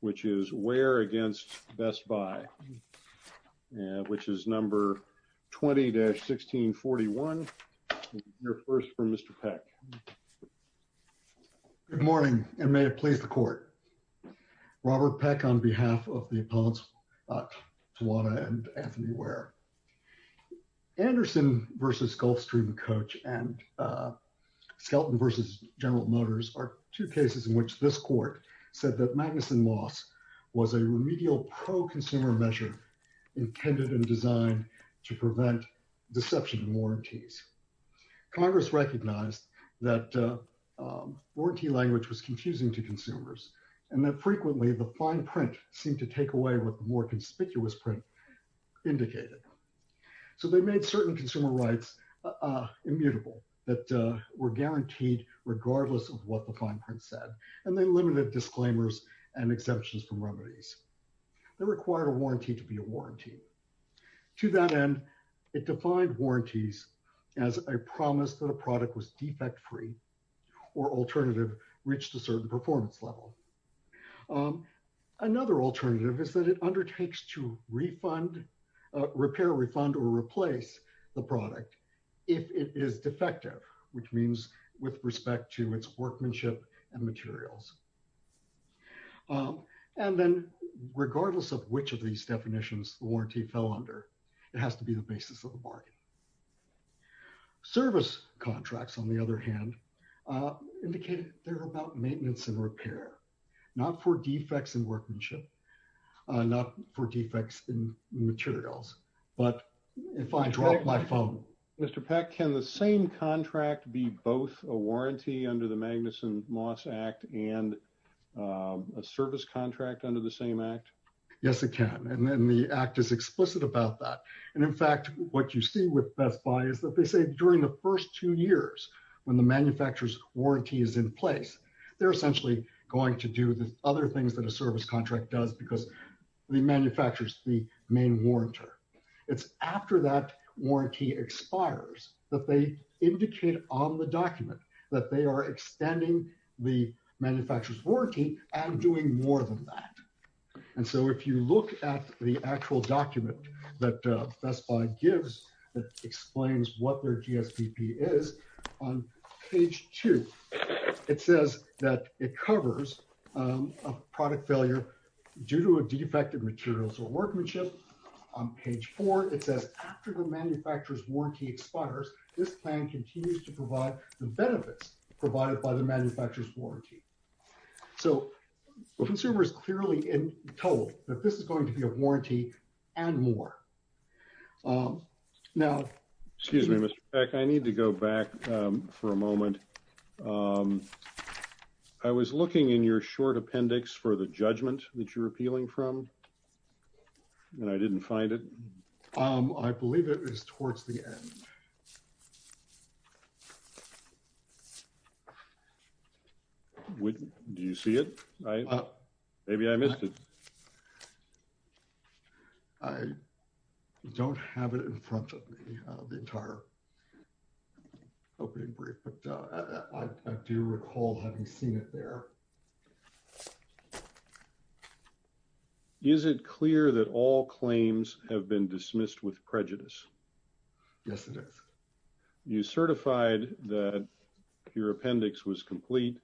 which is Ware against Best Buy, which is number 20-1641. You're first for Mr. Peck. Good morning and may it please the court. Robert Peck on behalf of the appellants Tawanna and Anthony Ware. Anderson versus Gulfstream Coach and Mr. Peck said that Magnuson loss was a remedial pro-consumer measure intended and designed to prevent deception and warranties. Congress recognized that warranty language was confusing to consumers and that frequently the fine print seemed to take away what the more conspicuous print indicated. So they made certain consumer rights immutable that were guaranteed regardless of what the disclaimers and exemptions from remedies. They required a warranty to be a warranty. To that end, it defined warranties as a promise that a product was defect-free or alternative reached a certain performance level. Another alternative is that it undertakes to refund, repair, refund, or replace the product if it is defective, which means with respect to its workmanship and service. And then regardless of which of these definitions the warranty fell under, it has to be the basis of the bargain. Service contracts, on the other hand, indicated they're about maintenance and repair, not for defects in workmanship, not for defects in materials. But if I drop my phone... Mr. Peck, can the same service contract under the same act? Yes, it can. And then the act is explicit about that. And in fact, what you see with Best Buy is that they say during the first two years when the manufacturer's warranty is in place, they're essentially going to do the other things that a service contract does because the manufacturer's the main warrantor. It's after that warranty expires that they indicate on the document that they are extending the manufacturer's warranty and doing more than that. And so if you look at the actual document that Best Buy gives that explains what their GSPP is, on page 2, it says that it covers a product failure due to a defective materials or workmanship. On page 4, it says after the benefits provided by the manufacturer's warranty. So the consumer is clearly told that this is going to be a warranty and more. Now... Excuse me, Mr. Peck, I need to go back for a moment. I was looking in your short appendix for the judgment that you're appealing from and I didn't find it. I believe it is towards the end. Do you see it? Maybe I missed it. I don't have it in front of me the entire opening brief, but I do recall having seen it there. Is it clear that all claims have been dismissed with prejudice? Yes, it is. You certified that your appendix was complete.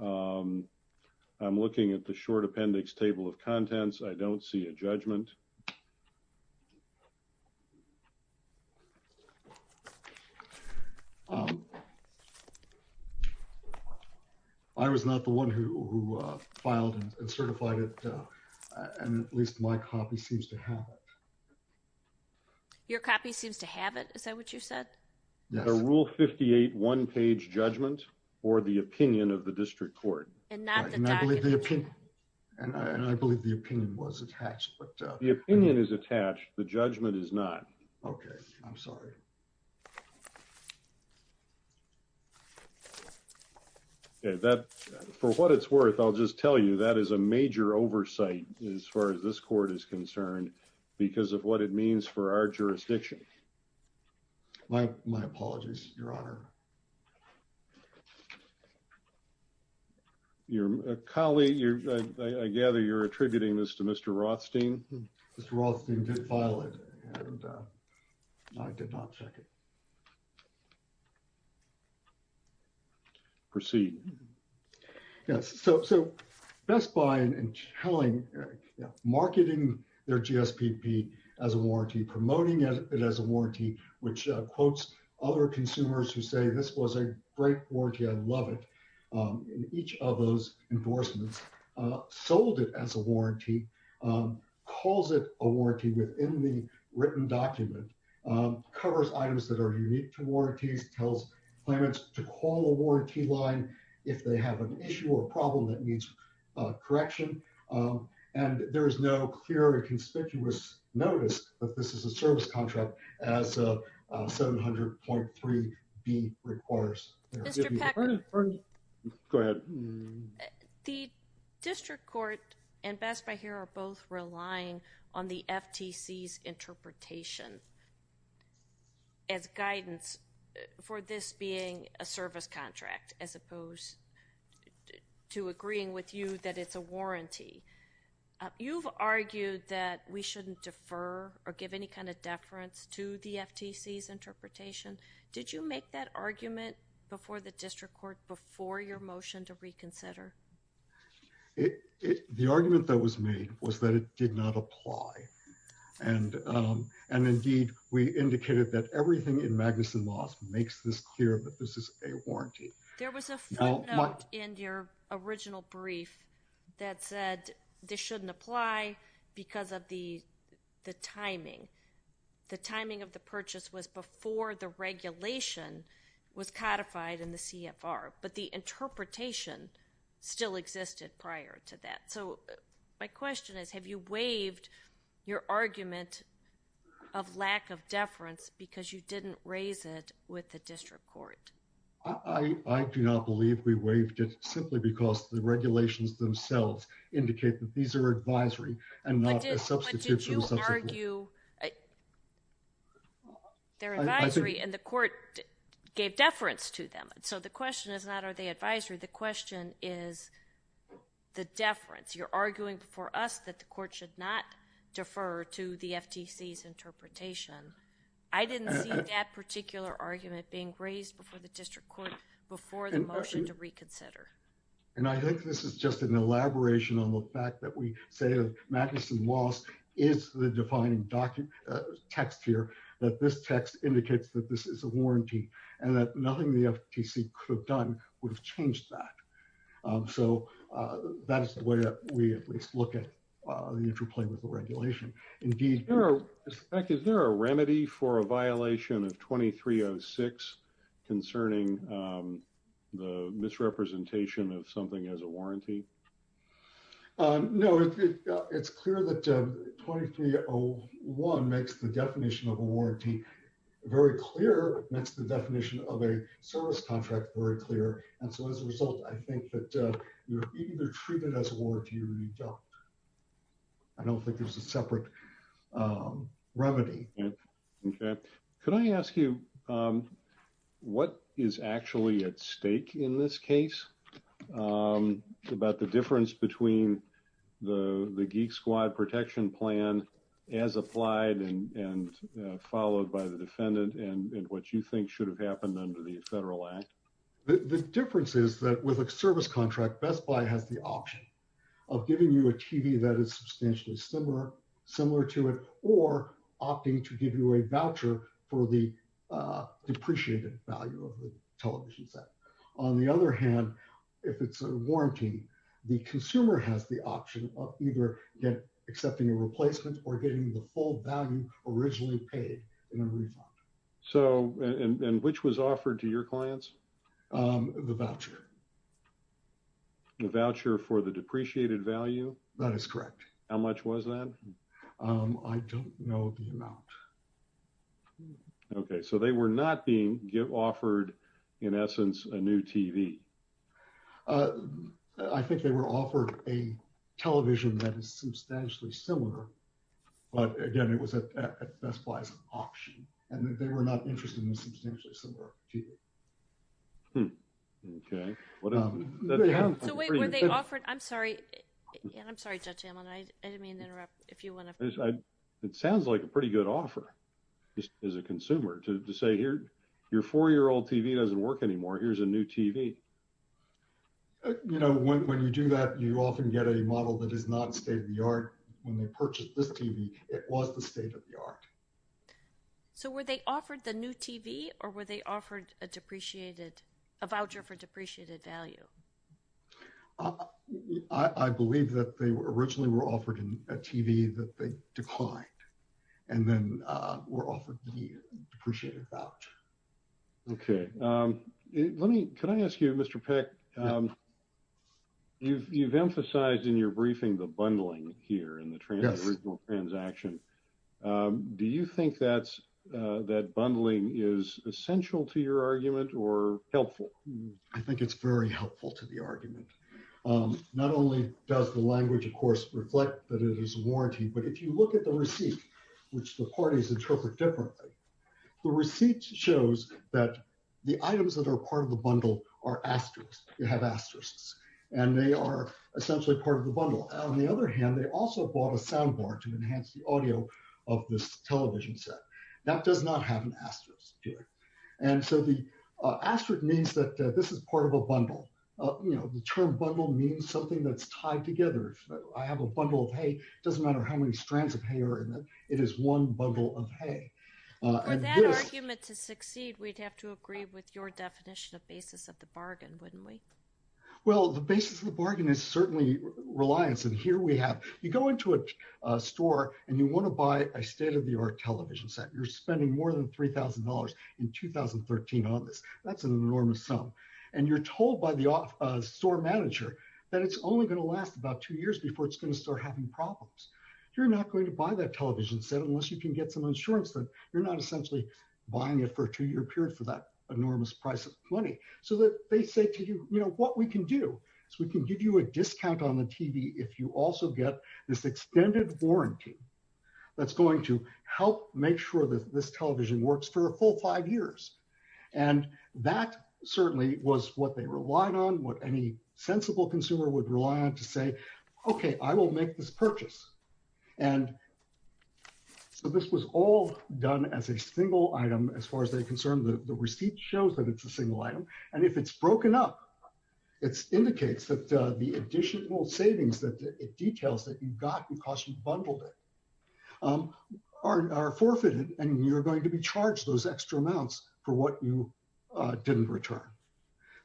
I'm looking at the short appendix table of contents. I don't see a judgment. I was not the one who filed and certified it, and at least my copy seems to have it. Your copy seems to have it. Is that what you said? The Rule 58 one-page judgment or the opinion of the district court. And I believe the opinion was attached. The opinion is attached. The judgment is not. Okay, I'm sorry. That, for what it's worth, I'll just tell you that is a major oversight as far as this court is concerned because of what it means for our jurisdiction. My apologies, Your Honor. Your colleague, I gather you're attributing this to Mr. Rothstein. Mr. Rothstein did file it and I did not check it. Proceed. Yes, so Best Buy, in telling, marketing their GSPP as a warranty, promoting it as a warranty, which quotes other consumers who say, this was a great warranty, I love it, in each of those enforcements, sold it as a warranty, calls it a warranty within the written document, covers items that are unique to warranties, tells claimants to call a warranty line, if they have an issue or a problem that needs correction. And there is no clear or conspicuous notice that this is a service contract as 700.3B requires. Mr. Peck. Go ahead. The district court and Best Buy here are both relying on the FTC's interpretation as guidance for this being a service contract, as opposed to agreeing with you that it's a warranty. You've argued that we shouldn't defer or give any kind of deference to the FTC's interpretation. Did you make that argument before the district court, before your motion to reconsider? The argument that was made was that it did not apply. And indeed, we indicated that everything in Magnuson Laws makes this clear that this is a warranty. There was a footnote in your original brief that said this shouldn't apply because of the timing. The timing of the purchase was before the regulation was codified in the CFR, but the interpretation still existed prior to that. So my question is, have you waived your argument of lack of deference because you didn't raise it with the district court? I do not believe we waived it simply because the regulations themselves indicate that these are advisory and not a substitution. But did you argue their advisory and the court gave deference to them? So the question is not, are they advisory? The question is the deference. You're arguing for us that the court should not defer to the FTC's interpretation. I didn't see that particular argument being raised before the district court, before the motion to reconsider. And I think this is just an elaboration on the fact that we say that Magnuson Laws is the defining text here, that this text indicates that this is a warranty and that nothing the FTC could have done would have changed that. So that is the way that we at least look at the interplay with the regulation. Indeed, is there a remedy for a violation of 2306 concerning the misrepresentation of something as a warranty? No, it's clear that 2301 makes the definition of a warranty very clear, makes the definition of a service contract very clear. And so as a result, I think that you're either treated as a warranty or you don't. I don't think there's a separate remedy. Okay, could I ask you, what is actually at stake in this case about the difference between the Geek Squad Protection Plan as applied and followed by the defendant and what you think should have happened under the federal act? The difference is that with a service contract, Best Buy has the option of giving you a TV that is substantially similar to it or opting to give you a voucher for the depreciated value of the television set. On the other hand, if it's a warranty, the consumer has the option of either accepting a replacement or getting the full value originally paid in a refund. So, and which was offered to your clients? The voucher. The voucher for the depreciated value? That is correct. How much was that? I don't know the amount. Okay, so they were not being offered, in essence, a new TV. I think they were offered a television that is substantially similar, but again, it was at Best Buy's option. And they were not interested in a substantially similar TV. Okay. So wait, were they offered, I'm sorry, and I'm sorry, Judge Hamlin, I didn't mean to interrupt if you want to. It sounds like a pretty good offer as a consumer to say here, your four-year-old TV doesn't work anymore, here's a new TV. You know, when you do that, you often get a model that is not state of the art. When they purchased this TV, it was the state of the art. So were they offered the new TV, or were they offered a depreciated, a voucher for depreciated value? I believe that they originally were offered a TV that they declined, and then were offered the depreciated voucher. Okay, let me, can I ask you, Mr. Peck, you've emphasized in your briefing the bundling here in the original transaction. Do you think that's, that bundling is essential to your argument, or helpful? I think it's very helpful to the argument. Not only does the language, of course, reflect that it is a warranty, but if you look at the receipt, which the parties interpret differently, the receipt shows that the items that are part of the bundle are asterisks, they have asterisks, and they are part of the video of this television set. That does not have an asterisk here. And so the asterisk means that this is part of a bundle. You know, the term bundle means something that's tied together. I have a bundle of hay, it doesn't matter how many strands of hay are in it, it is one bundle of hay. For that argument to succeed, we'd have to agree with your definition of basis of the bargain, wouldn't we? Well, the basis of the bargain is certainly reliance. And here we have, you go into a store and you want to buy a state-of-the-art television set. You're spending more than $3,000 in 2013 on this. That's an enormous sum. And you're told by the store manager that it's only going to last about two years before it's going to start having problems. You're not going to buy that television set unless you can get some insurance that you're not essentially buying it for a two-year period for that enormous price of money. So that they say to you, what we can do is we can give you a discount on the TV if you also get this extended warranty that's going to help make sure that this television works for a full five years. And that certainly was what they relied on, what any sensible consumer would rely on to say, okay, I will make this purchase. And so this was all done as a single item as far as they're concerned. The receipt shows that it's a single item. And if it's broken up, it indicates that the additional savings that it details that you got because you bundled it are forfeited and you're going to be charged those extra amounts for what you didn't return.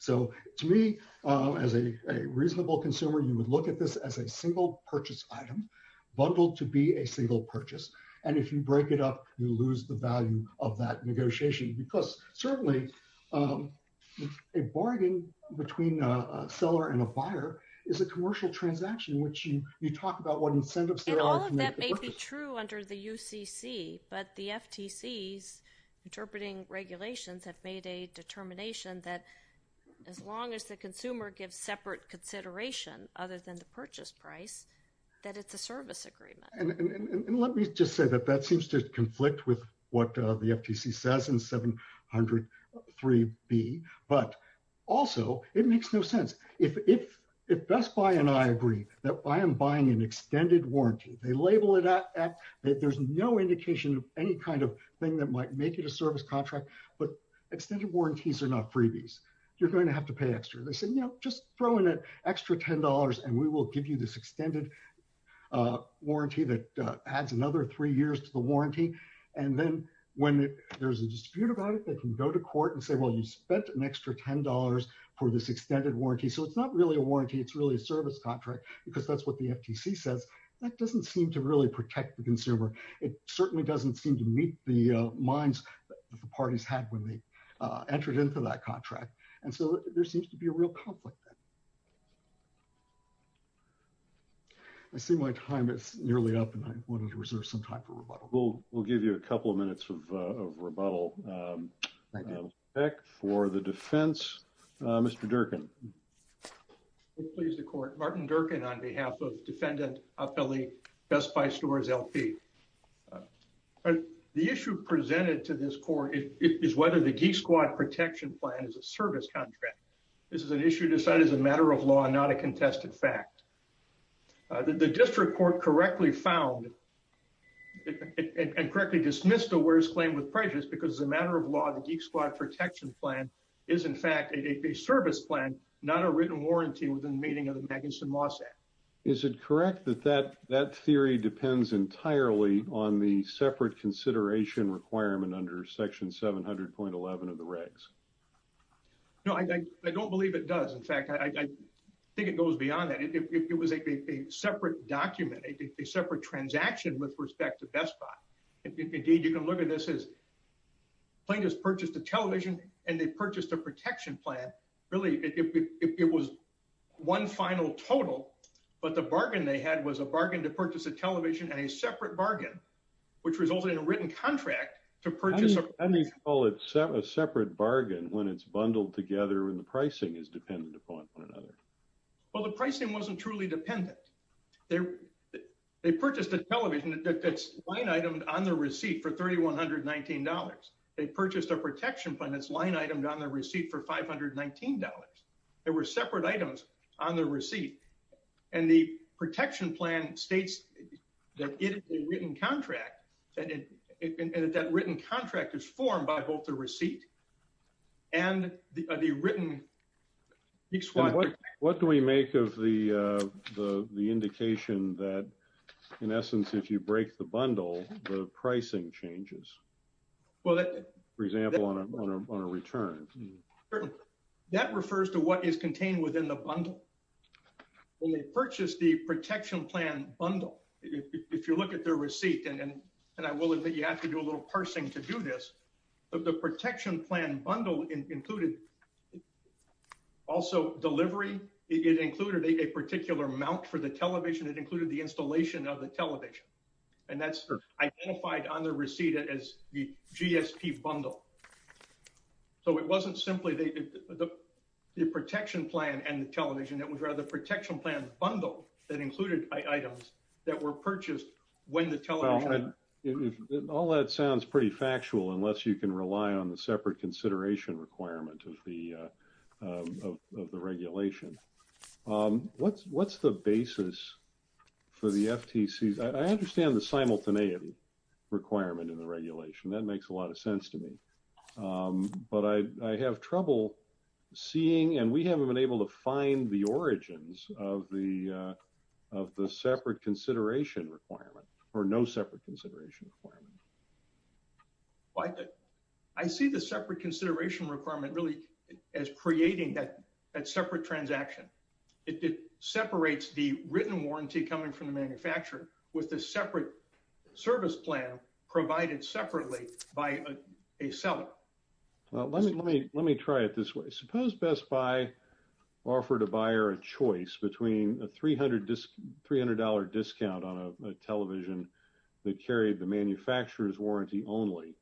So to me, as a reasonable consumer, you would look at this as a single purchase item bundled to be a single purchase. And if you break it up, you lose the value of that negotiation because certainly a bargain between a seller and a buyer is a commercial transaction in which you talk about what incentives there are. And all of that may be true under the UCC, but the FTC's interpreting regulations have made a determination that as long as the consumer gives separate consideration other than the purchase price, that it's a service agreement. And let me just say that that seems to conflict with what the FTC says in 100-3b, but also, it makes no sense. If Best Buy and I agree that I am buying an extended warranty, they label it at that there's no indication of any kind of thing that might make it a service contract, but extended warranties are not freebies. You're going to have to pay extra. They say, you know, just throw in an extra ten dollars and we will give you this extended warranty that adds another three years to the warranty. And then when there's a dispute about it, they can go to court and say, well, you spent an extra ten dollars for this extended warranty. So it's not really a warranty. It's really a service contract because that's what the FTC says. That doesn't seem to really protect the consumer. It certainly doesn't seem to meet the minds that the parties had when they entered into that contract. And so there seems to be a real conflict there. I see my time is nearly up and I wanted to reserve some time for rebuttal. We'll give you a couple of minutes of rebuttal. For the defense, Mr. Durkin. Please the court. Martin Durkin on behalf of Defendant Appelli, Best Buy Stores, L.P. The issue presented to this court is whether the Geek Squad Protection Plan is a service contract. This is an issue decided as a matter of law, not a contested fact. The district court correctly found and correctly dismissed the worst claim with prejudice because as a matter of law, the Geek Squad Protection Plan is in fact a service plan, not a written warranty within the meaning of the Magnuson-Moss Act. Is it correct that that theory depends entirely on the separate consideration requirement under section 700.11 of the regs? No, I don't believe it does. In fact, I think it goes beyond that. It was a separate document, a separate transaction with respect to Best Buy. Indeed, you can look at this as plaintiffs purchased a television and they purchased a protection plan. Really, it was one final total. But the bargain they had was a bargain to purchase a television and a separate bargain which resulted in a written contract to purchase. How do you call it a separate bargain when it's bundled together and the pricing is dependent upon one another? Well, the pricing wasn't truly dependent. They purchased a television that's line-itemed on the receipt for $3,119. They purchased a protection plan that's line-itemed on the receipt for $519. There were separate items on the receipt and the protection plan states that it is a written contract and that written contract is formed by both the receipt and the written exchange. What do we make of the indication that in essence, if you break the bundle, the pricing changes? For example, on a return. That refers to what is contained within the bundle. When they purchased the protection plan bundle, if you look at their receipt, and I will admit you have to do a little parsing to do this, the protection plan bundle included also delivery. It included a particular mount for the television. It included the installation of the television. And that's identified on the receipt as the GSP bundle. So it wasn't simply the protection plan and the television. It was rather the protection plan bundle that included items that were purchased when the television. All that sounds pretty factual unless you can rely on the separate consideration requirement of the regulation. What's the basis for the FTC? I understand the simultaneity requirement in the regulation. That makes a lot of sense to me. But I have trouble seeing and we haven't been able to find the origins of the separate consideration requirement or no separate consideration requirement. I see the separate consideration requirement really as creating that separate transaction. It separates the written warranty coming from the manufacturer with the separate service plan provided separately by a seller. Well, let me try it this way. Suppose Best Buy offered a buyer a choice between a $300 discount on a television that carried the manufacturer's warranty only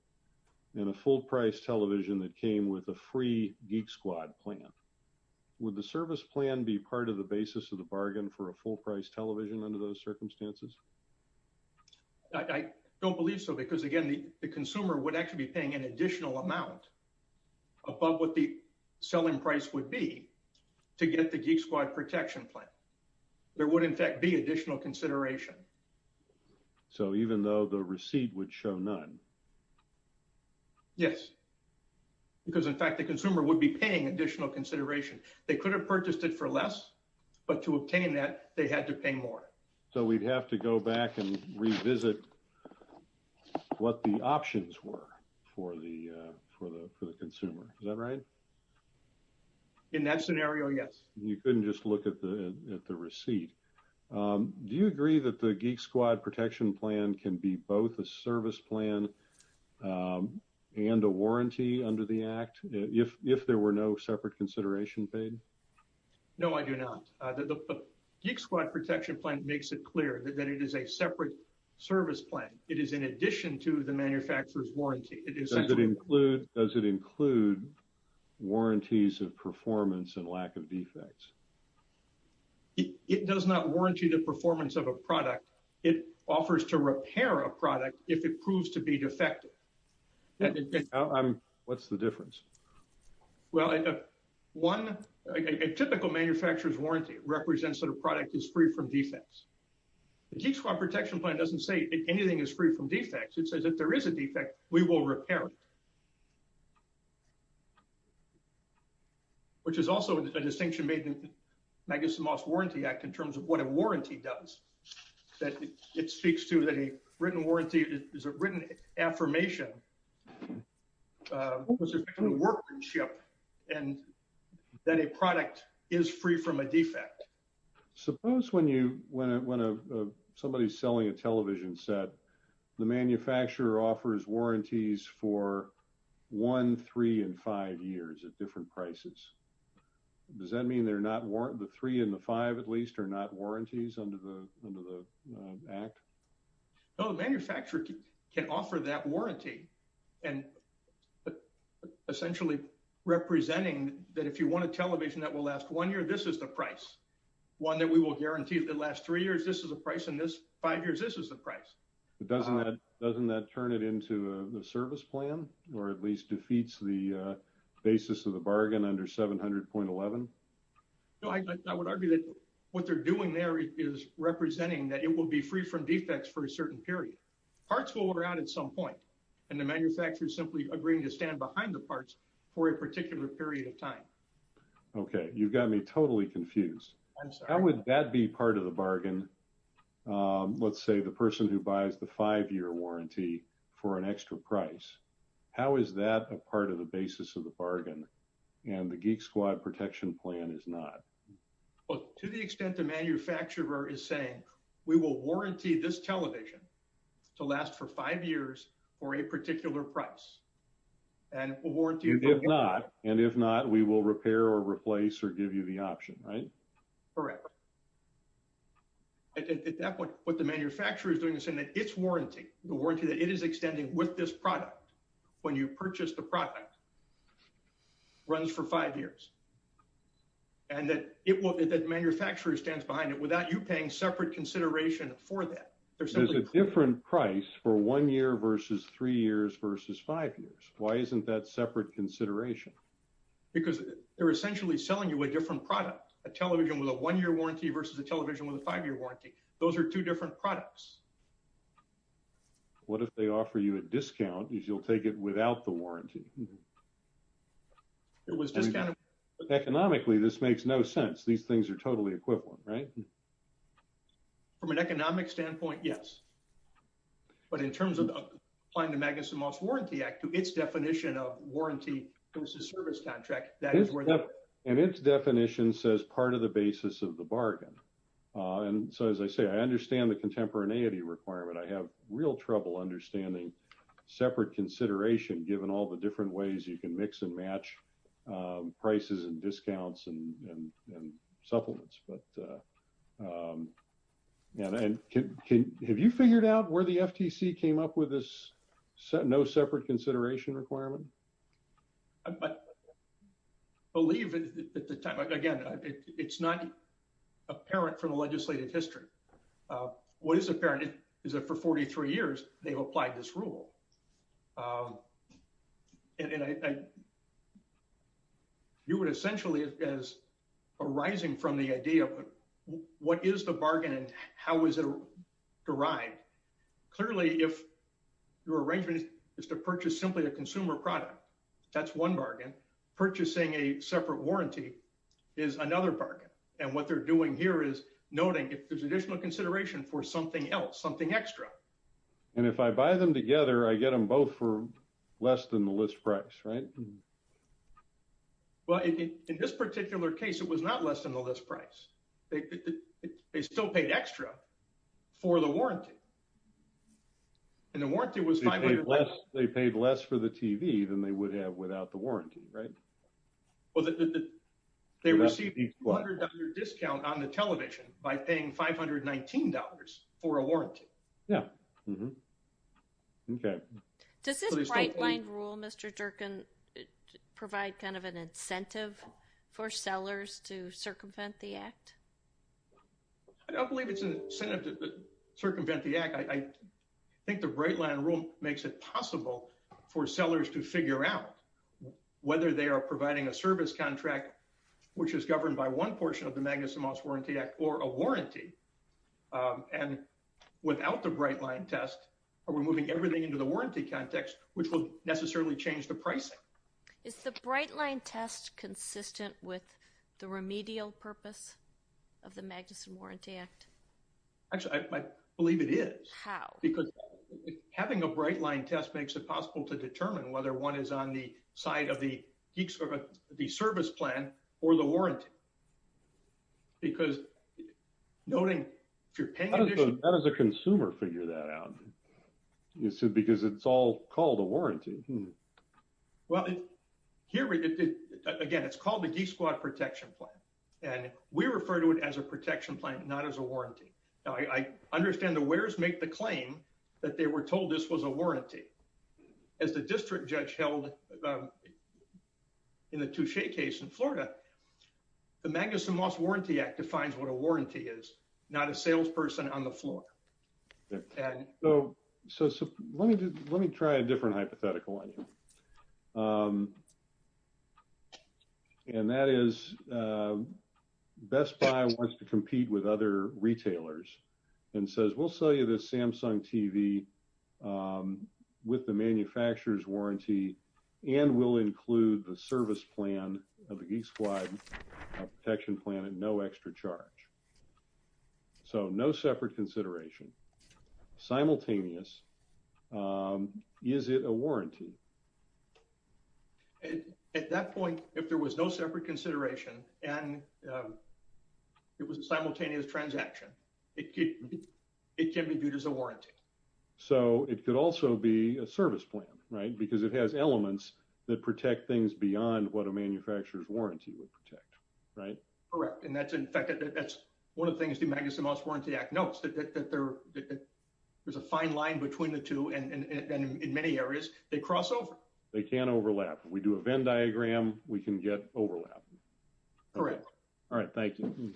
and a full price television that came with a free Geek Squad plan. Would the service plan be part of the basis of the bargain for a full price television under those circumstances? I don't believe so because again, the consumer would actually be paying an additional amount above what the selling price would be to get the Geek Squad protection plan. There would in fact be additional consideration. So even though the receipt would show none? Yes. Because in fact the consumer would be paying additional consideration. They could have purchased it for less but to obtain that they had to pay more. So we'd have to go back and revisit what the options were for the consumer. Is that right? In that scenario, yes. You couldn't just look at the receipt. Do you agree that the Geek Squad protection plan can be both a service plan and a warranty under the Act if there were no separate consideration paid? No, I do not. The Geek Squad protection plan makes it clear that it is a separate service plan. It is in addition to the manufacturer's warranty. Does it include warranties of performance and lack of defects? It does not warranty the performance of a product. It offers to repair a product if it proves to be defective. What's the difference? Well, one, a typical manufacturer's warranty represents that a product is free from defects. The Geek Squad protection plan doesn't say anything is free from defects. It says if there is a defect, we will repair it. Which is also a distinction made in Magnuson Moss Warranty Act in terms of what a warranty does. That it speaks to that a written warranty is a written affirmation of a workmanship and that a product is free from a defect. Suppose when somebody's selling a television set, the manufacturer offers warranties for one, three, and five years at different prices. Does that mean the three and the five at least are not warranties under the Act? No, the manufacturer can offer that warranty. But essentially representing that if you want a television that will last one year, this is the price. One that we will guarantee if it lasts three years, this is the price and this five years, this is the price. Doesn't that turn it into a service plan or at least defeats the basis of the bargain under 700.11? No, I would argue that what they're doing there is representing that it will be free from defects for a certain period. Parts will run out at some point and the manufacturer is simply agreeing to stand behind the parts for a particular period of time. Okay, you've got me totally confused. I'm sorry. How would that be part of the bargain? Let's say the person who buys the five-year warranty for an extra price. How is that a part of the basis of the bargain? And the Geek Squad Protection Plan is not. Well, to the extent the manufacturer is saying we will warranty this television to last for five years for a particular price. And if not, we will repair or replace or give you the option, right? Correct. At that point what the manufacturer is doing is saying that its warranty, the warranty that it is extending with this product when you purchase the product runs for five years. And that the manufacturer stands behind it without you paying separate consideration for that. There's a different price for one year versus three years versus five years. Why isn't that separate consideration? Because they're essentially selling you a different product. A television with a one-year warranty versus a television with a five-year warranty. Those are two different products. What if they offer you a discount is you'll take it without the warranty? It was discounted. Economically, this makes no sense. These things are totally equivalent, right? From an economic standpoint, yes. But in terms of applying the Magnuson Moss Warranty Act to its definition of warranty versus service contract, that is where they are. And its definition says part of the basis of the bargain. And so as I say, I understand the contemporaneity requirement. I have real trouble understanding separate consideration given all the different ways you can mix and match prices and discounts and supplements. But have you figured out where the FTC came up with this no separate consideration requirement? I believe at the time, again, it's not apparent from the legislative history. What is apparent is that for 43 years, they've applied this rule. You would essentially, as arising from the idea of what is the bargain and how is it derived, clearly if your arrangement is to purchase simply a consumer product, that's one bargain. Purchasing a separate warranty is another bargain. And what they're doing here is noting if there's additional consideration for something else, something extra. And if I buy them together, I get them both for less than the list price, right? Well, in this particular case, it was not less than the list price. They still paid extra for the warranty. And the warranty was $500. They paid less for the TV than they would have without the warranty, right? Well, they received a $200 discount on the television by paying $519 for a warranty. Yeah. Okay. Does this bright line rule, Mr. Jerkin, provide kind of an incentive for sellers to circumvent the act? I don't believe it's an incentive to circumvent the act. I think the bright line rule makes it possible for sellers to figure out whether they are providing a service contract, which is governed by one portion of the Magnuson Moss Warranty Act, or a warranty. And without the bright line test, are we moving everything into the warranty context, which will necessarily change the pricing? Is the bright line test consistent with the remedial purpose of the Magnuson Warranty Act? Actually, I believe it is. How? Because having a bright line test makes it possible to determine whether one is on the side of the service plan or the warranty. Because noting if you're paying... How does a consumer figure that out? Because it's all called a warranty. Well, here, again, it's called the geesequad protection plan, and we refer to it as a protection plan, not as a warranty. Now, I understand the wearers make the claim that they were told this was a warranty. As the district judge held in the Touche case in Florida, the Magnuson Moss Warranty Act defines what a warranty is, not a salesperson on the floor. So let me try a different hypothetical on you. And that is Best Buy wants to compete with other retailers and says, we'll sell you this Samsung TV with the manufacturer's warranty, and we'll include the service plan of the geesequad protection plan at no extra charge. So no separate consideration. Simultaneous, is it a warranty? At that point, if there was no separate consideration and it was a simultaneous transaction, it could be viewed as a warranty. So it could also be a service plan, right? Because it has elements that protect things beyond what a manufacturer's warranty would protect, right? Correct. And that's in fact, that's one of the things the Magnuson Moss Warranty Act notes, that there's a fine line between the two, and in many areas, they cross the line. They can't overlap. We do a Venn diagram, we can get overlap. Correct. All right. Thank you.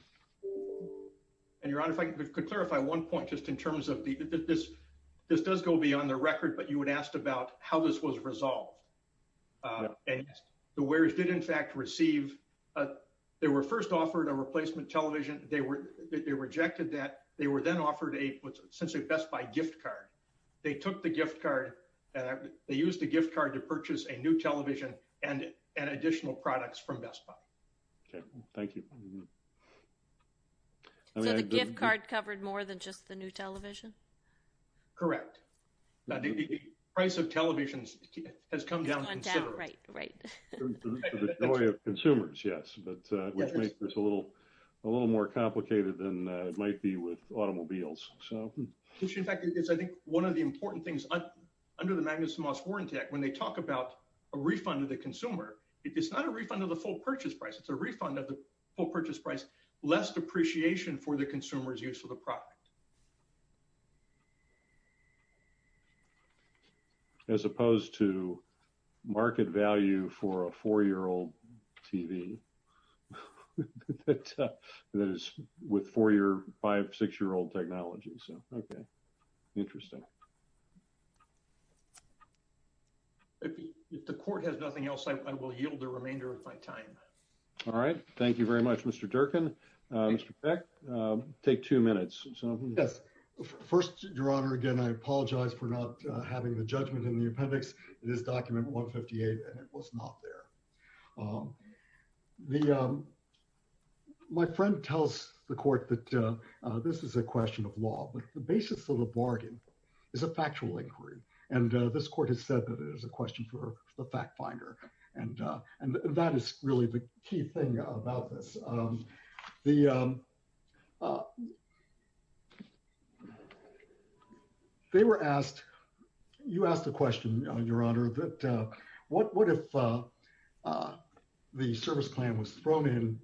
And Your Honor, if I could clarify one point just in terms of this, this does go beyond the record, but you had asked about how this was resolved. And the wearers did in fact receive, they were first offered a replacement television. They rejected that. They were then offered a essentially Best Buy gift card. They took the gift card, they used the gift card to purchase a new television and additional products from Best Buy. Okay, thank you. So the gift card covered more than just the new television? Correct. Now the price of televisions has gone down considerably. For the joy of consumers, yes, but which makes this a little more complicated than it might be with automobiles, so. In fact, it's I think one of the important things under the Magnuson Moss Warrant Act, when they talk about a refund of the consumer, it's not a refund of the full purchase price. It's a refund of the full purchase price, less depreciation for the consumer's use of the product. As opposed to market value for a four-year-old TV that is with four-year, five, six-year-old technology. So, okay, interesting. If the court has nothing else, I will yield the remainder of my time. All right. Thank you very much, Mr. Durkin. Mr. Peck, take two minutes. Yes. First, Your Honor, again, I apologize for not having the judgment in the appendix. It is document 158 and it was not there. My friend tells the court that this is a question of law, but the basis of the bargain is a factual inquiry, and this court has said that it is a question for the fact finder, and that is really the key thing about this. They were asked, you asked the question, Your Honor, that what if the service plan was thrown in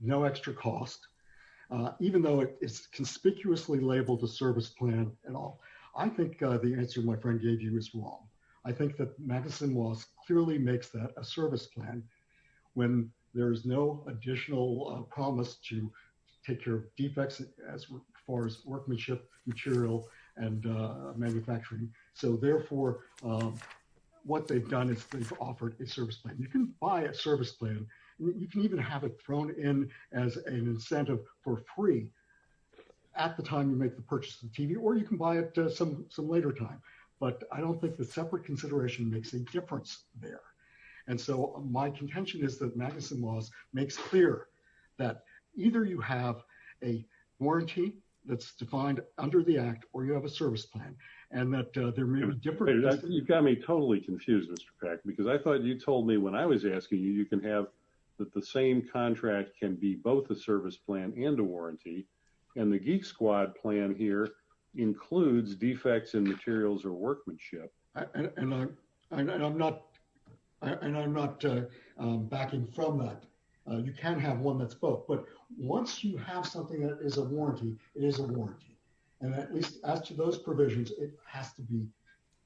no extra cost, even though it is conspicuously labeled a service plan at all. I think the answer my friend gave you is wrong. I think that Madison Laws clearly makes that a service plan when there is no additional promise to take care of defects as far as workmanship, material, and manufacturing. So, therefore, what they've done is they've offered a service plan. You can buy a service plan. You can even have it thrown in as an incentive for free at the time you make the purchase of the TV or you can buy it some later time, but I don't think the separate consideration makes a difference there. And so my contention is that Madison Laws makes clear that either you have a warranty that's defined under the Act or you have a service plan and that there may be different You've got me totally confused, Mr. Peck, because I thought you told me when I was asking you, you can have that the same contract can be both a service plan and a warranty and the Geek Squad plan here includes defects in materials or workmanship. And I'm not and I'm not backing from that. You can have one that's both, but once you have something that is a warranty, it is a warranty. And at least as to those provisions, it has to be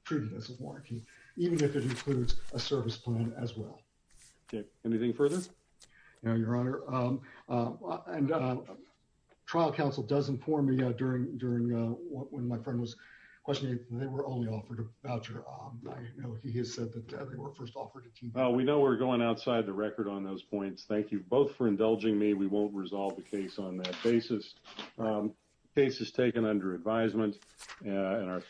treated as a warranty, even if it includes a service plan as well. Okay, anything further? No, Your Honor. Trial counsel does inform me during when my friend was questioning, they were only offered a voucher. I know he has said that they were first offered a TV. Well, we know we're going outside the record on those points. Thank you both for indulging me. We won't resolve the case on that basis. The case is taken under advisement Yeah